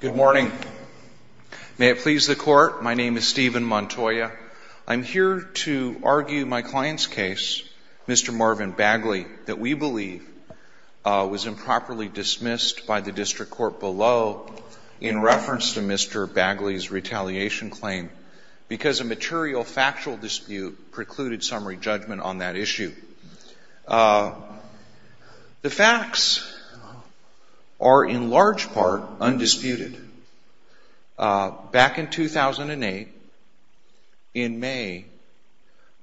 Good morning. May it please the Court, my name is Stephen Montoya. I'm here to argue my client's case, Mr. Marvin Bagley, that we believe was improperly dismissed by the district court below in reference to Mr. Bagley's retaliation claim because a material factual dispute precluded summary judgment on that issue. The facts are in large part undisputed. Back in 2008, in May,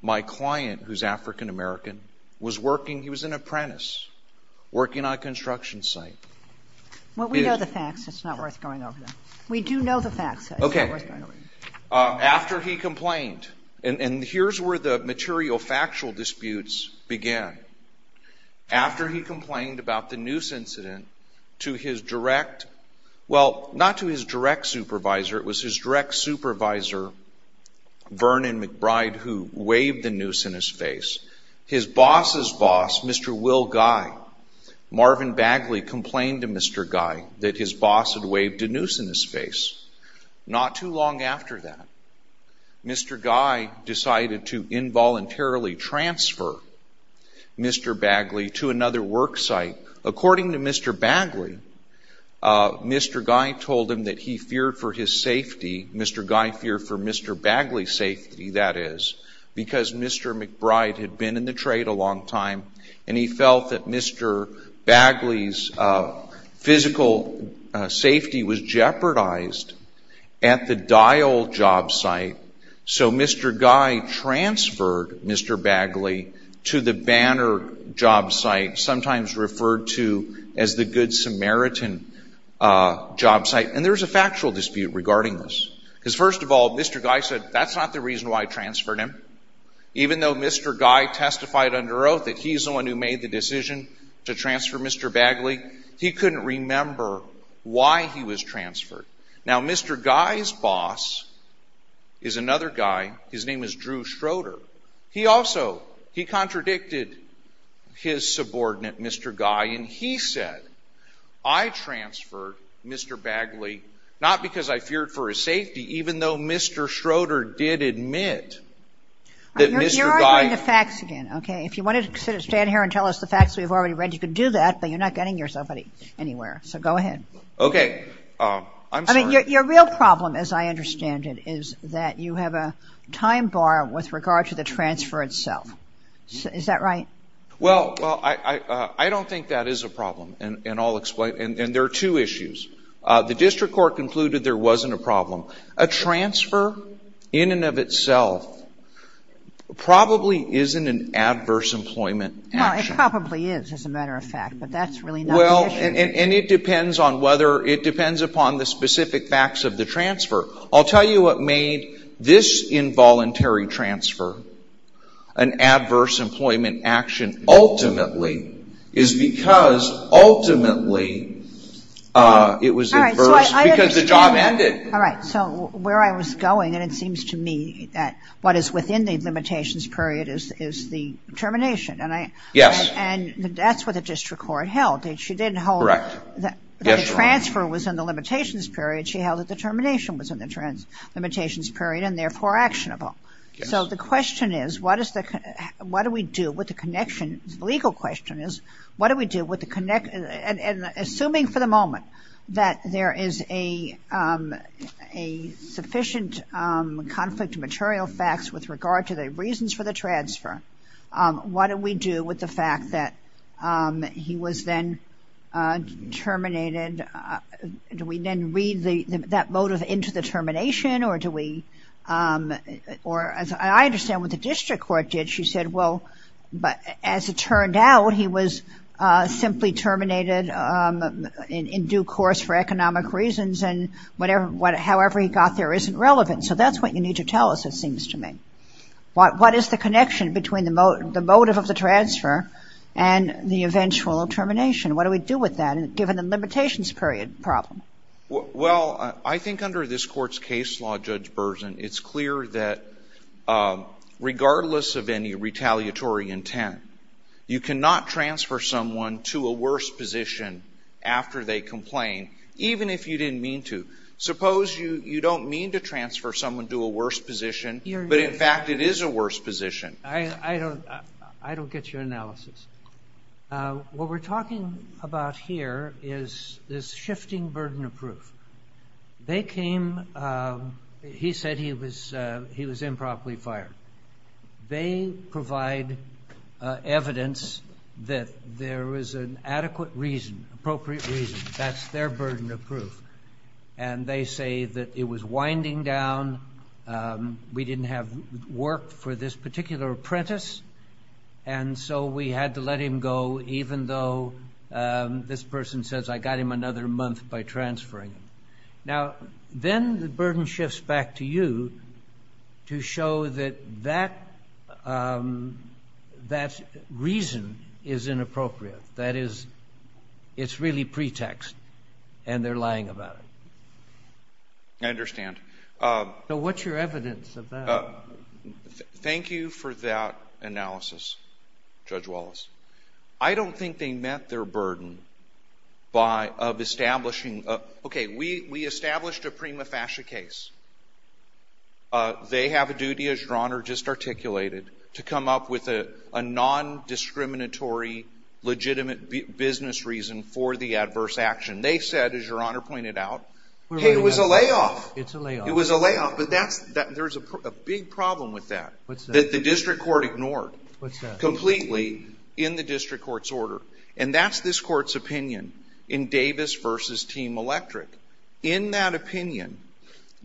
my client, who's African-American, was working, he was an apprentice, working on a construction site. Well, we know the facts. It's not worth going over them. We do know the facts. Okay. After he complained, and here's where the material factual disputes began. After he complained about the noose incident to his direct, well, not to his direct supervisor, it was his direct supervisor, Vernon McBride, who waved the noose in his face, his boss's boss, Mr. Will Guy, Marvin Bagley complained to Mr. Guy that his boss had waved a noose in his face. Not too long after that, Mr. Guy decided to involuntarily transfer Mr. Bagley to another work site. According to Mr. Bagley, Mr. Guy told him that he feared for his safety, Mr. Guy feared for Mr. Bagley's safety, that is, because Mr. McBride had been in the trade a long time and he felt that Mr. Bagley's physical safety was jeopardized. At the Dial job site, so Mr. Guy transferred Mr. Bagley to the Banner job site, sometimes referred to as the Good Samaritan job site, and there's a factual dispute regarding this. Because first of all, Mr. Guy said, that's not the reason why I transferred him. Even though Mr. Guy testified under oath that he's the one who made the decision to transfer Mr. Bagley, he couldn't remember why he was transferred. Now, Mr. Guy's boss is another guy, his name is Drew Schroeder. He also, he contradicted his subordinate, Mr. Guy, and he said, I transferred Mr. Bagley not because I feared for his safety, even though I feared for his safety, but because I feared for his safety. Even though Mr. Schroeder did admit that Mr. Guy – You're arguing the facts again, okay? If you want to stand here and tell us the facts we've already read, you can do that, but you're not getting yourself anywhere. So go ahead. Okay. I'm sorry. I mean, your real problem, as I understand it, is that you have a time bar with regard to the transfer itself. Is that right? Well, I don't think that is a problem, and I'll explain. And there are two issues. The district court concluded there wasn't a problem. A transfer in and of itself probably isn't an adverse employment action. Well, it probably is, as a matter of fact, but that's really not the issue. And it depends on whether – it depends upon the specific facts of the transfer. I'll tell you what made this involuntary transfer an adverse employment action ultimately is because ultimately it was adverse because the job ended. All right. So where I was going, and it seems to me that what is within the limitations period is the termination. Yes. And that's what the district court held. She didn't hold that the transfer was in the limitations period. She held that the termination was in the limitations period and therefore actionable. Yes. So the question is, what do we do with the connection – the legal question is, what do we do with the – and assuming for the moment that there is a sufficient conflict of material facts with regard to the reasons for the transfer, what do we do with the fact that he was then terminated? Do we then read that motive into the termination or do we – or I understand what the district court did. She said, well, as it turned out, he was simply terminated in due course for economic reasons and however he got there isn't relevant. So that's what you need to tell us, it seems to me. What is the connection between the motive of the transfer and the eventual termination? What do we do with that given the limitations period problem? Well, I think under this Court's case law, Judge Berzin, it's clear that regardless of any retaliatory intent, you cannot transfer someone to a worse position after they complain, even if you didn't mean to. Suppose you don't mean to transfer someone to a worse position, but in fact it is a worse position. I don't get your analysis. What we're talking about here is this shifting burden of proof. They came – he said he was improperly fired. They provide evidence that there was an adequate reason, appropriate reason. That's their burden of proof. And they say that it was winding down, we didn't have work for this particular apprentice, and so we had to let him go even though this person says I got him another month by transferring him. Now, then the burden shifts back to you to show that that reason is inappropriate. That is, it's really pretext and they're lying about it. I understand. So what's your evidence of that? Thank you for that analysis, Judge Wallace. I don't think they met their burden of establishing – okay, we established a prima facie case. They have a duty, as Your Honor just articulated, to come up with a non-discriminatory, legitimate business reason for the adverse action. They said, as Your Honor pointed out, hey, it was a layoff. It's a layoff. It was a layoff, but that's – there's a big problem with that. What's that? That the district court ignored completely in the district court's order. And that's this court's opinion in Davis v. Team Electric. In that opinion,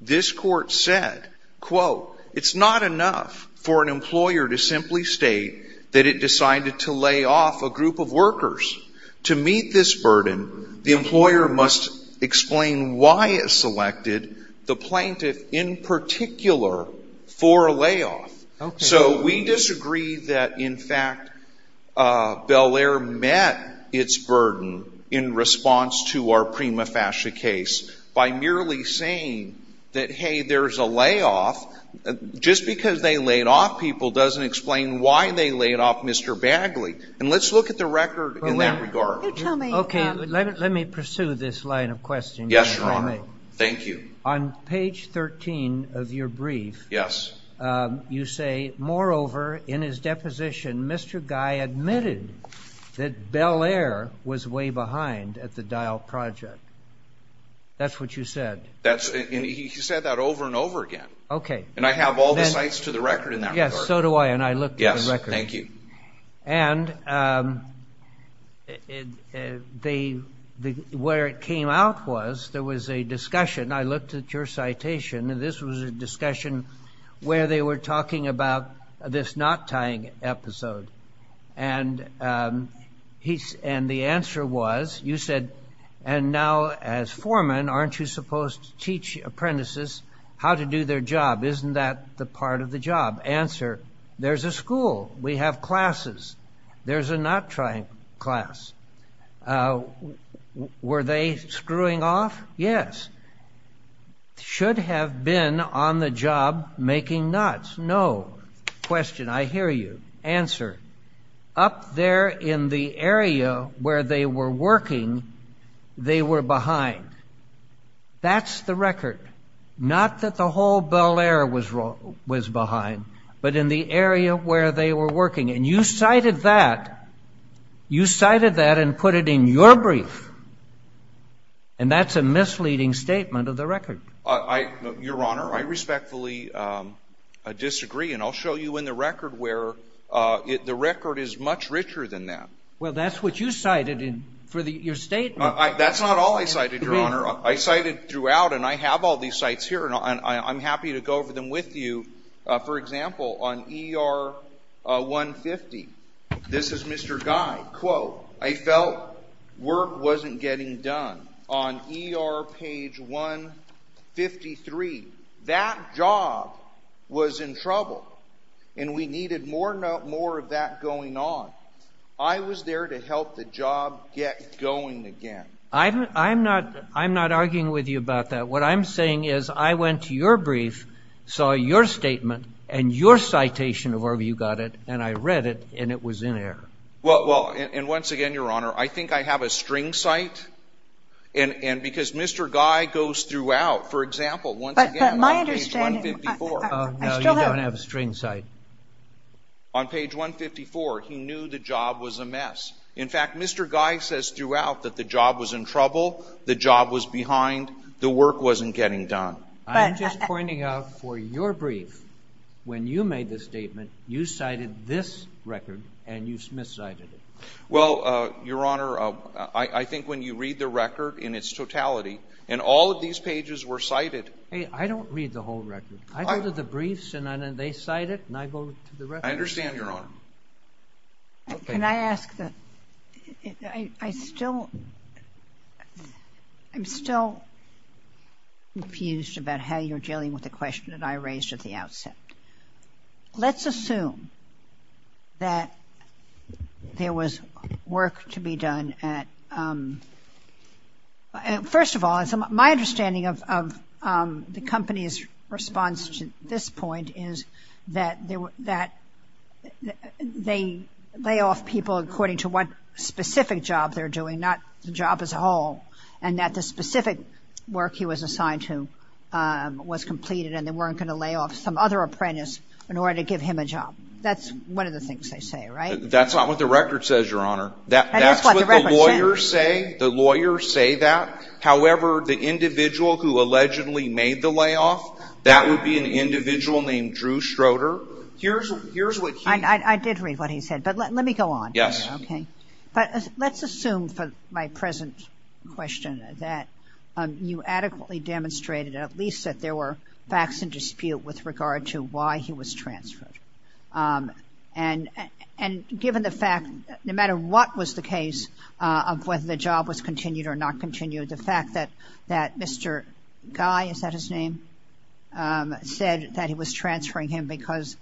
this court said, quote, it's not enough for an employer to simply state that it decided to lay off a group of workers. To meet this burden, the employer must explain why it selected the plaintiff in particular for a layoff. Okay. So we disagree that, in fact, Bel Air met its burden in response to our prima facie case by merely saying that, hey, there's a layoff. Just because they laid off people doesn't explain why they laid off Mr. Bagley. And let's look at the record in that regard. Okay. Let me pursue this line of questioning. Yes, Your Honor. Thank you. On page 13 of your brief. Yes. You say, moreover, in his deposition, Mr. Guy admitted that Bel Air was way behind at the Dial Project. That's what you said. That's – and he said that over and over again. Okay. And I have all the sites to the record in that regard. Yes, so do I. And I looked at the record. Thank you. And where it came out was there was a discussion. I looked at your citation, and this was a discussion where they were talking about this knot-tying episode. And the answer was, you said, and now as foreman, aren't you supposed to teach apprentices how to do their job? Isn't that the part of the job? Answer, there's a school. We have classes. There's a knot-tying class. Were they screwing off? Yes. Should have been on the job making knots. No. Question. I hear you. Answer. Up there in the area where they were working, they were behind. That's the record. Not that the whole Bel Air was behind, but in the area where they were working. And you cited that. You cited that and put it in your brief. And that's a misleading statement of the record. Your Honor, I respectfully disagree, and I'll show you in the record where the record is much richer than that. Well, that's what you cited for your statement. That's not all I cited, Your Honor. I cited throughout, and I have all these sites here, and I'm happy to go over them with you. For example, on ER 150, this is Mr. Guy. Quote, I felt work wasn't getting done. On ER page 153, that job was in trouble, and we needed more of that going on. I was there to help the job get going again. I'm not arguing with you about that. What I'm saying is I went to your brief, saw your statement, and your citation of where you got it, and I read it, and it was in error. Well, and once again, Your Honor, I think I have a string cite, and because Mr. Guy goes throughout. For example, once again, on page 154. But my understanding, I still have it. No, you don't have a string cite. On page 154, he knew the job was a mess. In fact, Mr. Guy says throughout that the job was in trouble, the job was behind, the work wasn't getting done. I'm just pointing out for your brief, when you made the statement, you cited this record, and you miscited it. Well, Your Honor, I think when you read the record in its totality, and all of these pages were cited. I don't read the whole record. I go to the briefs, and they cite it, and I go to the record. I understand, Your Honor. Okay. Can I ask the – I still – I'm still confused about how you're dealing with the question that I raised at the outset. Let's assume that there was work to be done at – first of all, my understanding of the company's response to this point is that they lay off people according to what specific job they're doing, not the job as a whole, and that the specific work he was assigned to was completed, and they weren't going to lay off some other apprentice in order to give him a job. That's one of the things they say, right? That's not what the record says, Your Honor. That's what the record says. The lawyers say that. However, the individual who allegedly made the layoff, that would be an individual named Drew Schroeder. Here's what he – I did read what he said, but let me go on. Yes. Okay. But let's assume for my present question that you adequately demonstrated at least that there were facts in dispute with regard to why he was transferred. And given the fact, no matter what was the case of whether the job was continued or not continued, the fact that Mr. Guy, is that his name, said that he was transferring him because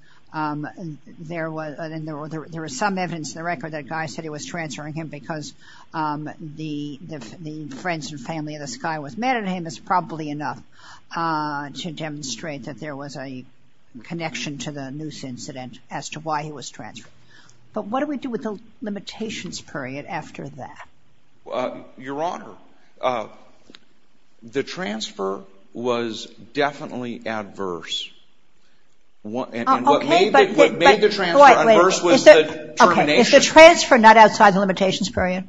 there was – and there was some evidence in the record that Guy said he was transferring him because the friends and family of this guy was mad at him is probably enough to demonstrate that there was a connection to the noose incident as to why he was transferred. But what do we do with the limitations period after that? Your Honor, the transfer was definitely adverse. And what made the transfer adverse was the termination. Okay. Is the transfer not outside the limitations period?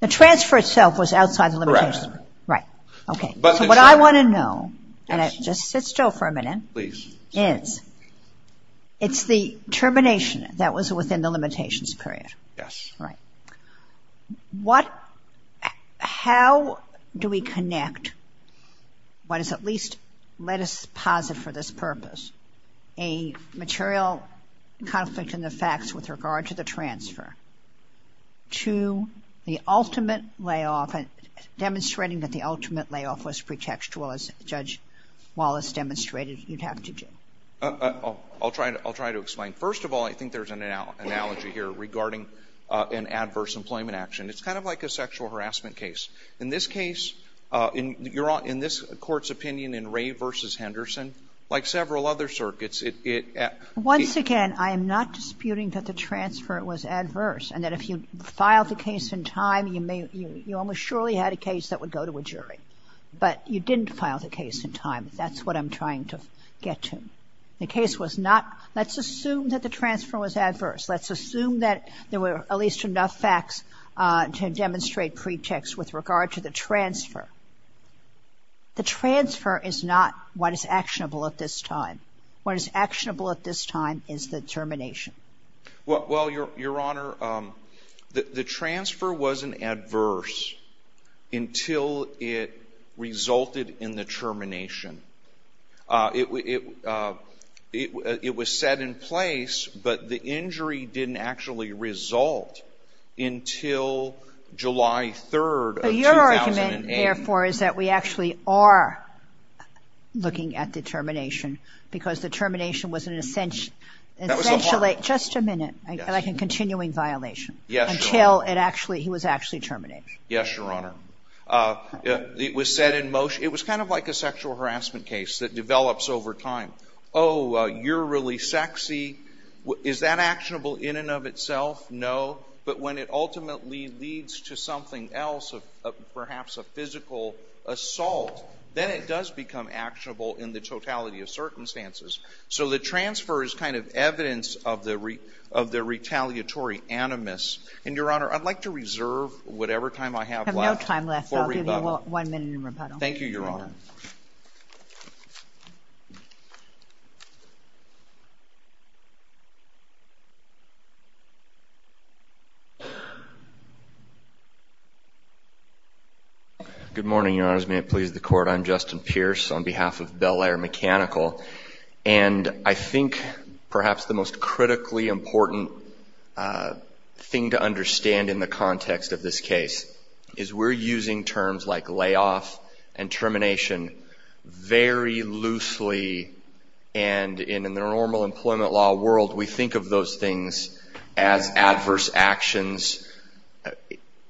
The transfer itself was outside the limitations period. Right. Okay. So what I want to know, and just sit still for a minute, is it's the termination that was within the limitations period. Yes. Right. What – how do we connect what is at least, let us posit for this purpose, a material conflict in the facts with regard to the transfer to the ultimate layoff, demonstrating that the ultimate layoff was pretextual, as Judge Wallace demonstrated you'd have to do? I'll try to explain. First of all, I think there's an analogy here regarding an adverse employment action. It's kind of like a sexual harassment case. In this case, in this Court's opinion in Ray v. Henderson, like several other circuits, it – Once again, I am not disputing that the transfer was adverse and that if you filed the case in time, you may – you almost surely had a case that would go to a jury. But you didn't file the case in time. That's what I'm trying to get to. The case was not – let's assume that the transfer was adverse. Let's assume that there were at least enough facts to demonstrate pretext with regard to the transfer. The transfer is not what is actionable at this time. What is actionable at this time is the termination. Well, Your Honor, the transfer wasn't adverse until it resulted in the termination. It was set in place, but the injury didn't actually result until July 3rd of 2008. But your argument, therefore, is that we actually are looking at the termination because the termination was an – That was the heart. Just a minute. Yes. Like a continuing violation. Yes, Your Honor. Until it actually – he was actually terminated. Yes, Your Honor. It was set in motion – it was kind of like a sexual harassment case that develops over time. Oh, you're really sexy. Is that actionable in and of itself? No. But when it ultimately leads to something else, perhaps a physical assault, then it does become actionable in the totality of circumstances. So the transfer is kind of evidence of the retaliatory animus. And, Your Honor, I'd like to reserve whatever time I have left. No time left. I'll give you one minute in rebuttal. Thank you, Your Honor. Good morning, Your Honors. May it please the Court. I'm Justin Pierce on behalf of Bel Air Mechanical. And I think perhaps the most critically important thing to understand in the context of this case is we're using terms like layoff and termination very loosely. And in the normal employment law world, we think of those things as adverse actions.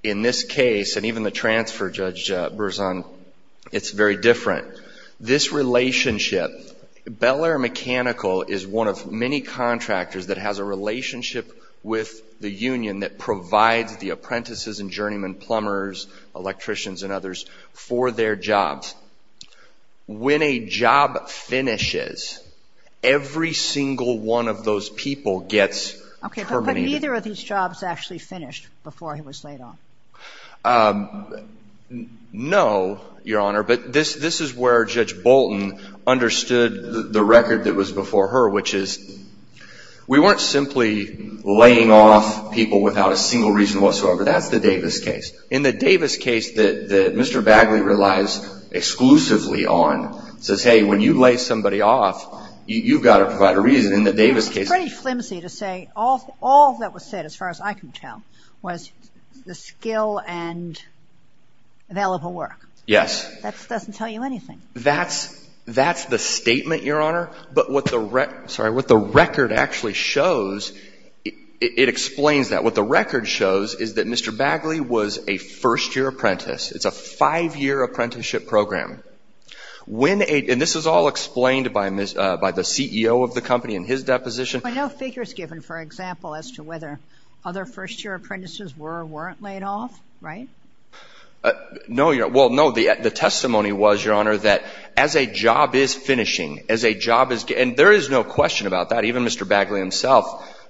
In this case, and even the transfer, Judge Berzon, it's very different. This relationship, Bel Air Mechanical is one of many contractors that has a relationship with the union that provides the apprentices and journeymen, plumbers, electricians, and others for their jobs. When a job finishes, every single one of those people gets terminated. Okay, but neither of these jobs actually finished before he was laid off. No, Your Honor, but this is where Judge Bolton understood the record that was before her, which is we weren't simply laying off people without a single reason whatsoever. That's the Davis case. In the Davis case that Mr. Bagley relies exclusively on, says, hey, when you lay somebody off, you've got to provide a reason. In the Davis case ---- It's pretty flimsy to say all that was said, as far as I can tell, was the skill and available work. Yes. That doesn't tell you anything. That's the statement, Your Honor, but what the record actually shows, it explains that. What the record shows is that Mr. Bagley was a first-year apprentice. It's a five-year apprenticeship program. And this is all explained by the CEO of the company in his deposition. But no figures given, for example, as to whether other first-year apprentices were or weren't laid off, right? No, Your Honor. Well, no, the testimony was, Your Honor, that as a job is finishing, as a job is getting ---- and there is no question about that. Even Mr. Bagley himself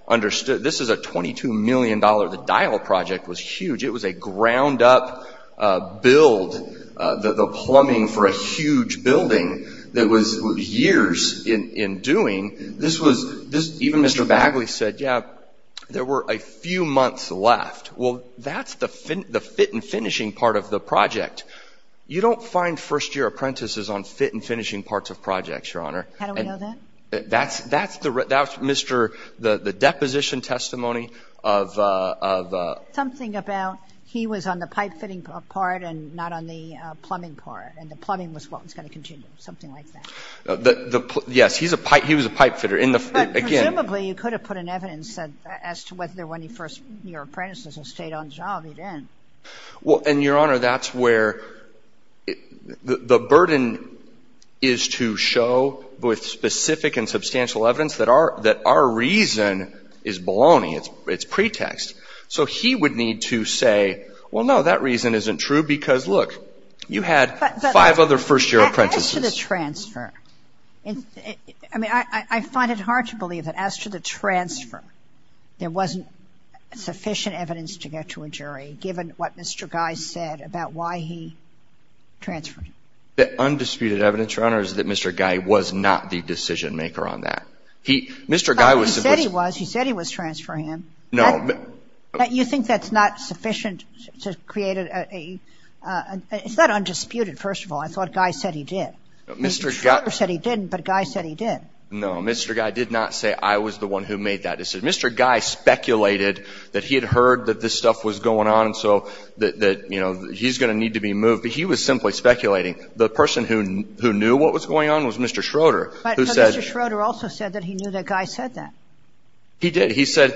understood. This is a $22 million. The Dial Project was huge. It was a ground-up build, the plumbing for a huge building that was years in doing. This was ---- Even Mr. Bagley said, yeah, there were a few months left. Well, that's the fit and finishing part of the project. You don't find first-year apprentices on fit and finishing parts of projects, Your Honor. How do we know that? That's Mr. ---- the deposition testimony of ---- Something about he was on the pipe fitting part and not on the plumbing part, and the plumbing was what was going to continue, something like that. Yes, he was a pipe fitter. But presumably you could have put an evidence as to whether there were any first-year apprentices who stayed on job. He didn't. Well, and, Your Honor, that's where the burden is to show with specific and substantial evidence that our reason is baloney. It's pretext. So he would need to say, well, no, that reason isn't true because, look, you had five other first-year apprentices. But as to the transfer, I mean, I find it hard to believe that as to the transfer, there wasn't sufficient evidence to get to a jury, given what Mr. Guy said about why he transferred. The undisputed evidence, Your Honor, is that Mr. Guy was not the decision-maker on that. He ---- Mr. Guy was ---- He said he was. He said he was transferring him. No. You think that's not sufficient to create a ---- it's not undisputed, first of all. I thought Guy said he did. Mr. Guy ---- No, Mr. Guy did not say I was the one who made that decision. Mr. Guy speculated that he had heard that this stuff was going on and so that, you know, he's going to need to be moved. But he was simply speculating. The person who knew what was going on was Mr. Schroeder, who said ---- But Mr. Schroeder also said that he knew that Guy said that. He did. He said,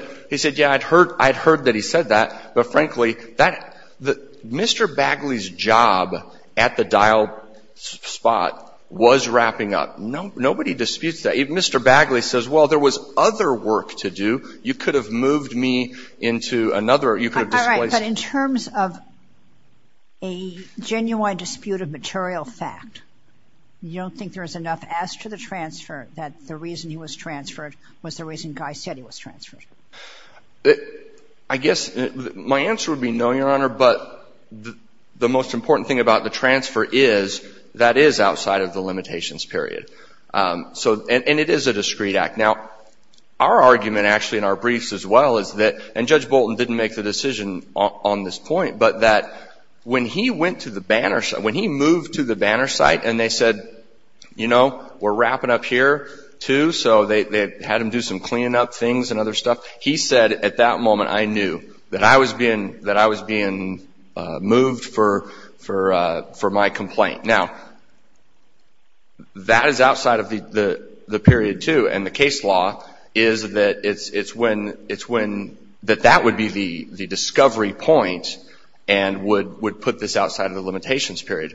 yeah, I'd heard that he said that. But, frankly, that ---- Mr. Bagley's job at the dial spot was wrapping up. Nobody disputes that. If Mr. Bagley says, well, there was other work to do, you could have moved me into another or you could have displaced me. All right. But in terms of a genuine dispute of material fact, you don't think there is enough as to the transfer that the reason he was transferred was the reason Guy said he was transferred? I guess my answer would be no, Your Honor, but the most important thing about the And it is a discreet act. Now, our argument actually in our briefs as well is that, and Judge Bolton didn't make the decision on this point, but that when he went to the banner site, when he moved to the banner site and they said, you know, we're wrapping up here too, so they had him do some cleaning up things and other stuff, he said at that moment, I knew that I was being moved for my complaint. Now, that is outside of the period too and the case law is that it's when, that that would be the discovery point and would put this outside of the limitations period.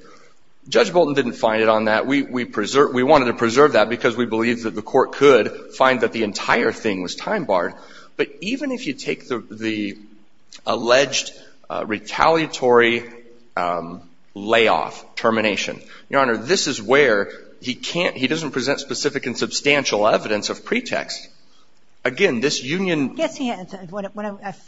Judge Bolton didn't find it on that. We wanted to preserve that because we believed that the court could find that the entire thing was time barred. But even if you take the alleged retaliatory layoff termination, Your Honor, this is where he can't, he doesn't present specific and substantial evidence of pretext. Again, this union Yes, he has. When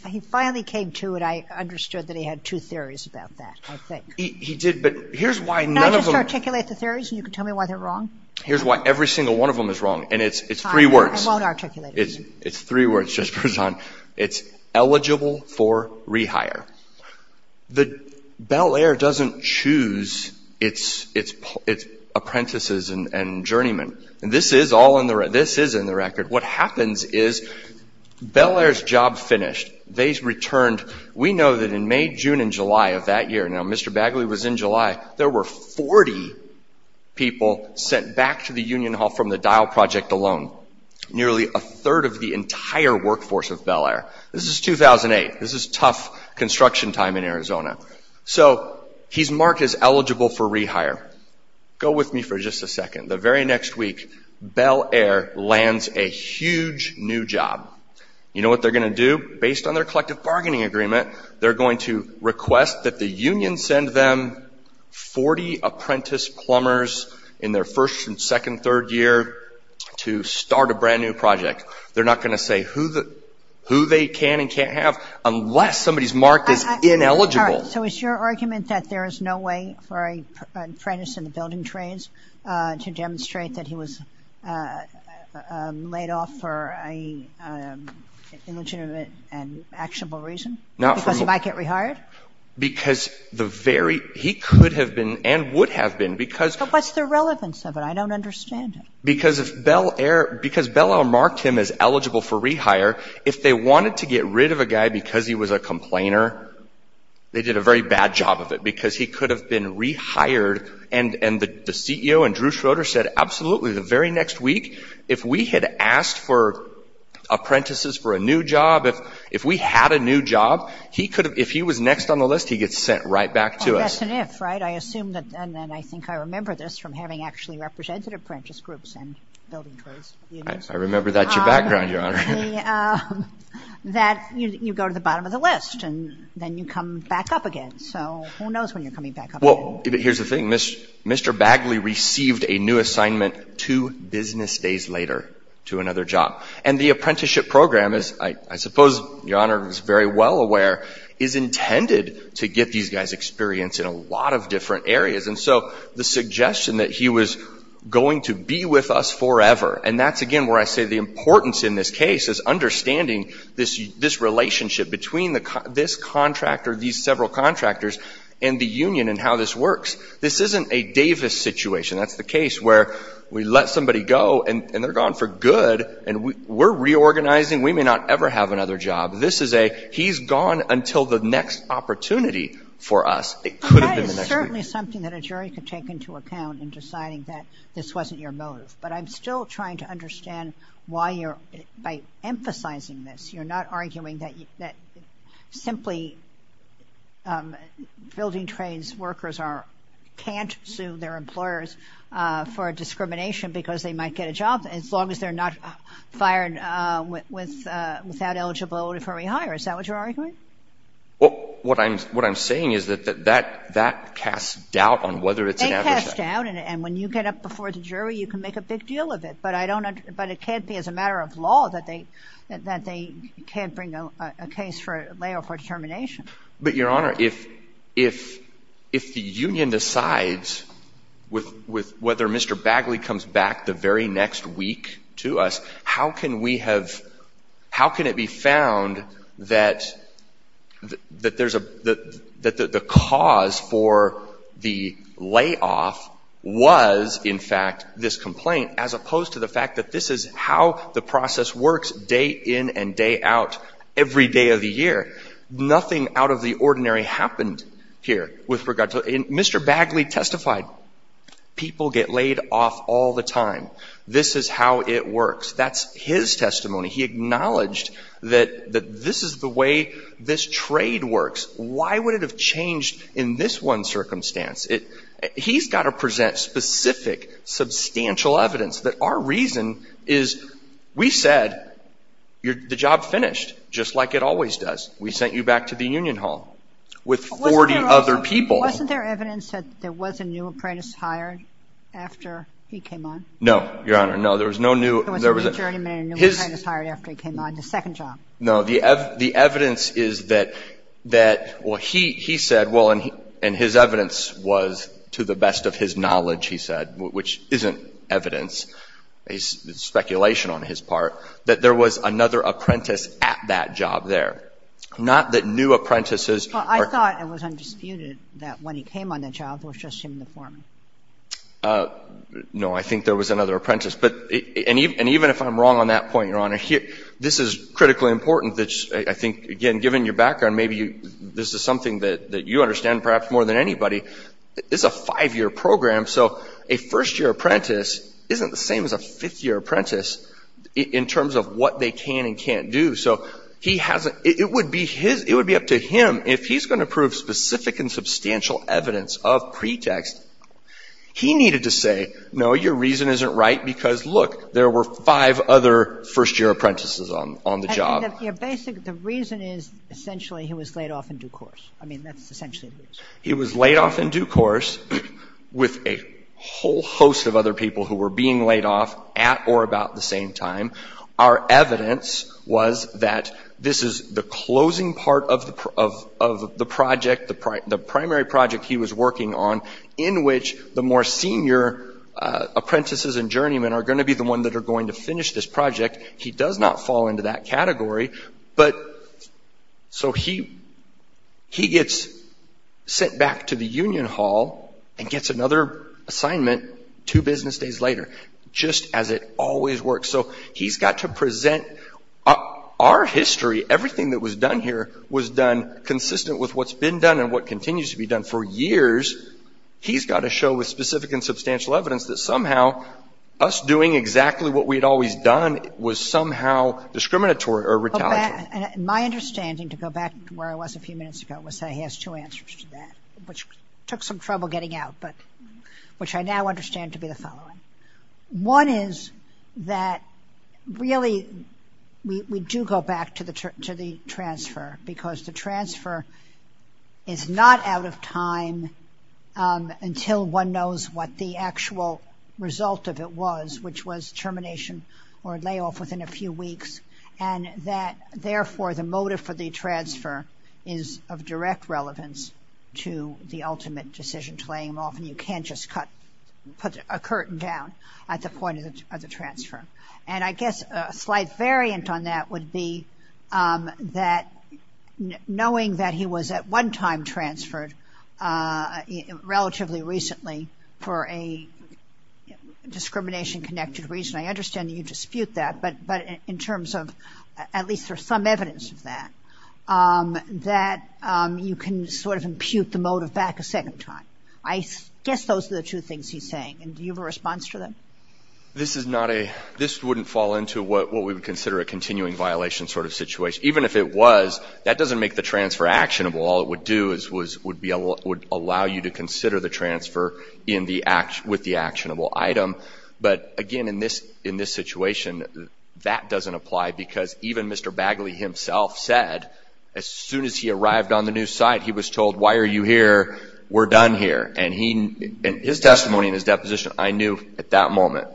he finally came to it, I understood that he had two theories about that, I think. He did, but here's why none of them Can I just articulate the theories and you can tell me why they're wrong? Here's why every single one of them is wrong and it's three words. I won't articulate it. It's three words, Judge Berzon. It's eligible for rehire. The Bel Air doesn't choose its apprentices and journeymen. This is in the record. What happens is Bel Air's job finished. They returned. We know that in May, June, and July of that year, now Mr. Bagley was in July, there were 40 people sent back to the union hall from the Dial Project alone. Nearly a third of the entire workforce of Bel Air. This is 2008. This is tough construction time in Arizona. So he's marked as eligible for rehire. Go with me for just a second. The very next week, Bel Air lands a huge new job. You know what they're going to do? Based on their collective bargaining agreement, they're going to request that the union send 40 apprentice plumbers in their first and second, third year to start a brand new project. They're not going to say who they can and can't have unless somebody's marked as ineligible. So it's your argument that there is no way for an apprentice in the building trades to demonstrate that he was laid off for an illegitimate and actionable reason? Because he might get rehired? Because he could have been and would have been. But what's the relevance of it? I don't understand it. Because Bel Air marked him as eligible for rehire, if they wanted to get rid of a guy because he was a complainer, they did a very bad job of it because he could have been rehired. And the CEO and Drew Schroeder said, absolutely, the very next week, if we had asked for apprentices for a new job, if we had a new job, he could have, if he was next on the list, he gets sent right back to us. That's an if, right? I assume that, and I think I remember this from having actually represented apprentice groups and building trades. I remember that's your background, Your Honor. That you go to the bottom of the list and then you come back up again. So who knows when you're coming back up again? Well, here's the thing. Mr. Bagley received a new assignment two business days later to another job. And the apprenticeship program is, I suppose Your Honor is very well aware, is intended to get these guys experience in a lot of different areas. And so the suggestion that he was going to be with us forever, and that's again where I say the importance in this case is understanding this relationship between this contractor, these several contractors, and the union and how this works. This isn't a Davis situation. That's the case where we let somebody go and they're gone for good, and we're reorganizing. We may not ever have another job. This is a he's gone until the next opportunity for us. It could have been the next week. That is certainly something that a jury could take into account in deciding that this wasn't your motive. But I'm still trying to understand why you're, by emphasizing this, you're not arguing that simply building trades workers can't sue their employers for discrimination because they might get a job as long as they're not fired without eligibility for rehire. Is that what you're arguing? Well, what I'm saying is that that casts doubt on whether it's an adverse effect. It casts doubt, and when you get up before the jury, you can make a big deal of it. But it can't be as a matter of law that they can't bring a case for layoff or determination. But, Your Honor, if the union decides whether Mr. Bagley comes back the very next week to us, how can we have – how can it be found that there's a – that the cause for the layoff was, in fact, this complaint as opposed to the fact that this is how the process works day in and day out every day of the year? Nothing out of the ordinary happened here with regard to – and Mr. Bagley testified, people get laid off all the time. This is how it works. That's his testimony. He acknowledged that this is the way this trade works. Why would it have changed in this one circumstance? He's got to present specific substantial evidence that our reason is we said the job finished just like it always does. We sent you back to the union hall with 40 other people. Wasn't there evidence that there was a new apprentice hired after he came on? No, Your Honor, no. There was no new – There was a new journeyman and new apprentice hired after he came on, the second job. No, the evidence is that – well, he said, well, and his evidence was to the best of his knowledge, he said, which isn't evidence. It's speculation on his part that there was another apprentice at that job there, not that new apprentices are – Well, I thought it was undisputed that when he came on the job, it was just him and the foreman. No, I think there was another apprentice. And even if I'm wrong on that point, Your Honor, this is critically important. I think, again, given your background, maybe this is something that you understand perhaps more than anybody. It's a five-year program, so a first-year apprentice isn't the same as a fifth-year apprentice in terms of what they can and can't do. So he hasn't – it would be his – it would be up to him if he's going to prove specific and substantial evidence of pretext. He needed to say, no, your reason isn't right because, look, there were five other first-year apprentices on the job. The reason is essentially he was laid off in due course. I mean, that's essentially the reason. He was laid off in due course with a whole host of other people who were being laid off at or about the same time. Our evidence was that this is the closing part of the project, the primary project he was working on, in which the more senior apprentices and journeymen are going to be the ones that are going to finish this project. He does not fall into that category. But – so he gets sent back to the union hall and gets another assignment two business days later, just as it always works. So he's got to present our history, everything that was done here, was done consistent with what's been done and what continues to be done for years. He's got to show with specific and substantial evidence that somehow us doing exactly what we had always done was somehow discriminatory or retaliatory. My understanding, to go back to where I was a few minutes ago, was that he has two answers to that, which took some trouble getting out, but – which I now understand to be the following. One is that really we do go back to the transfer because the transfer is not out of time until one knows what the actual result of it was, which was termination or layoff within a few weeks, and that therefore the motive for the transfer is of direct relevance to the ultimate decision to lay him off. And you can't just cut – put a curtain down at the point of the transfer. And I guess a slight variant on that would be that knowing that he was at one time transferred relatively recently for a discrimination-connected reason, I understand that you dispute that, but in terms of at least there's some evidence of that, that you can sort of impute the motive back a second time. I guess those are the two things he's saying, and do you have a response to them? This is not a – this wouldn't fall into what we would consider a continuing violation sort of situation. Even if it was, that doesn't make the transfer actionable. All it would do is – would allow you to consider the transfer in the – with the actionable item. But again, in this situation, that doesn't apply because even Mr. Bagley himself said as soon as he arrived on the new site, he was told, why are you here? We're done here. And he – his testimony and his deposition, I knew at that moment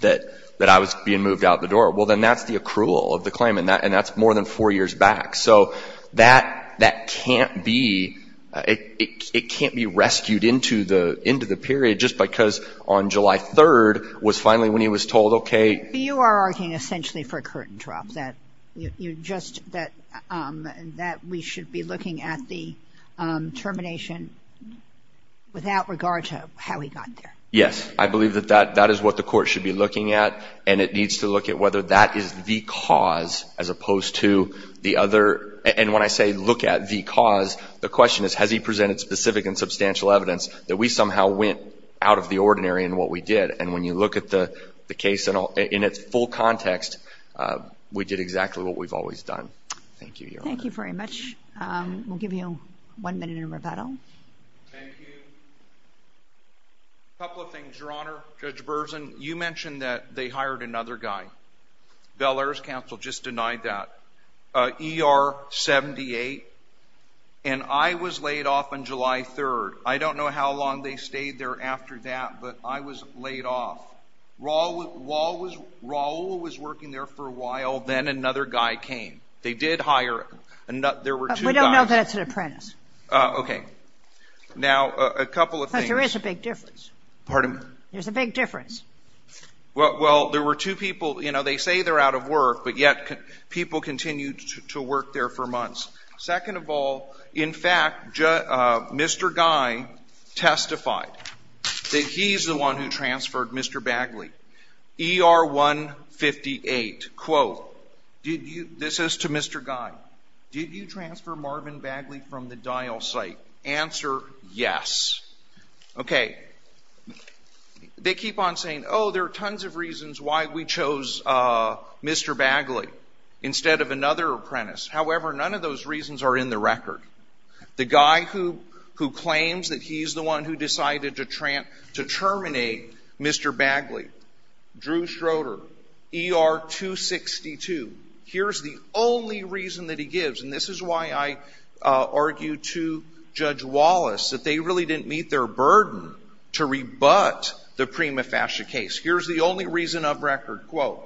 that I was being moved out the door. Well, then that's the accrual of the claim, and that's more than four years back. So that can't be – it can't be rescued into the period just because on July 3rd was finally when he was told, okay – You are arguing essentially for a curtain drop, that you just – that we should be looking at the termination without regard to how he got there. Yes. I believe that that is what the Court should be looking at, and it needs to look at whether that is the cause as opposed to the other – and when I say look at the cause, the question is, has he presented specific and substantial evidence that we somehow went out of the ordinary in what we did? And when you look at the case in its full context, we did exactly what we've always done. Thank you, Your Honor. Thank you very much. We'll give you one minute in rebuttal. Thank you. A couple of things, Your Honor. Judge Berzin, you mentioned that they hired another guy. Bel Air's counsel just denied that. ER-78. And I was laid off on July 3rd. I don't know how long they stayed there after that, but I was laid off. Raul was working there for a while. Then another guy came. They did hire – there were two guys. We don't know that it's an apprentice. Okay. Now, a couple of things. But there is a big difference. Pardon me? There's a big difference. Well, there were two people. You know, they say they're out of work, but yet people continued to work there for months. Second of all, in fact, Mr. Guy testified that he's the one who transferred Mr. Bagley. ER-158. Quote, this is to Mr. Guy. Did you transfer Marvin Bagley from the dial site? Answer, yes. Okay. They keep on saying, oh, there are tons of reasons why we chose Mr. Bagley instead of another apprentice. However, none of those reasons are in the record. The guy who claims that he's the one who decided to terminate Mr. Bagley, Drew Schroeder, ER-262. Here's the only reason that he gives, and this is why I argued to Judge Wallace, that they really didn't meet their burden to rebut the Prima Fascia case. Here's the only reason of record. Quote,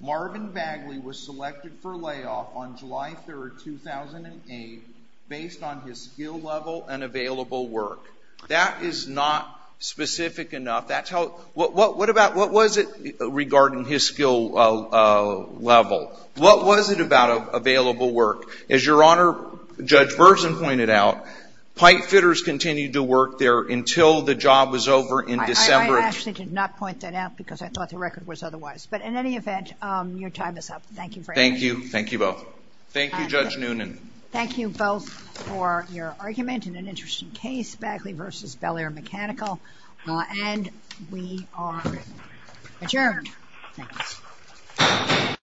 Marvin Bagley was selected for layoff on July 3, 2008, based on his skill level and available work. That is not specific enough. What was it regarding his skill level? What was it about available work? As Your Honor, Judge Burson pointed out, pipe fitters continued to work there until the job was over in December. I actually did not point that out because I thought the record was otherwise. But in any event, your time is up. Thank you for answering. Thank you. Thank you both. Thank you, Judge Noonan. Thank you both for your argument in an interesting case, Bagley v. Bel Air Mechanical. And we are adjourned. Thanks.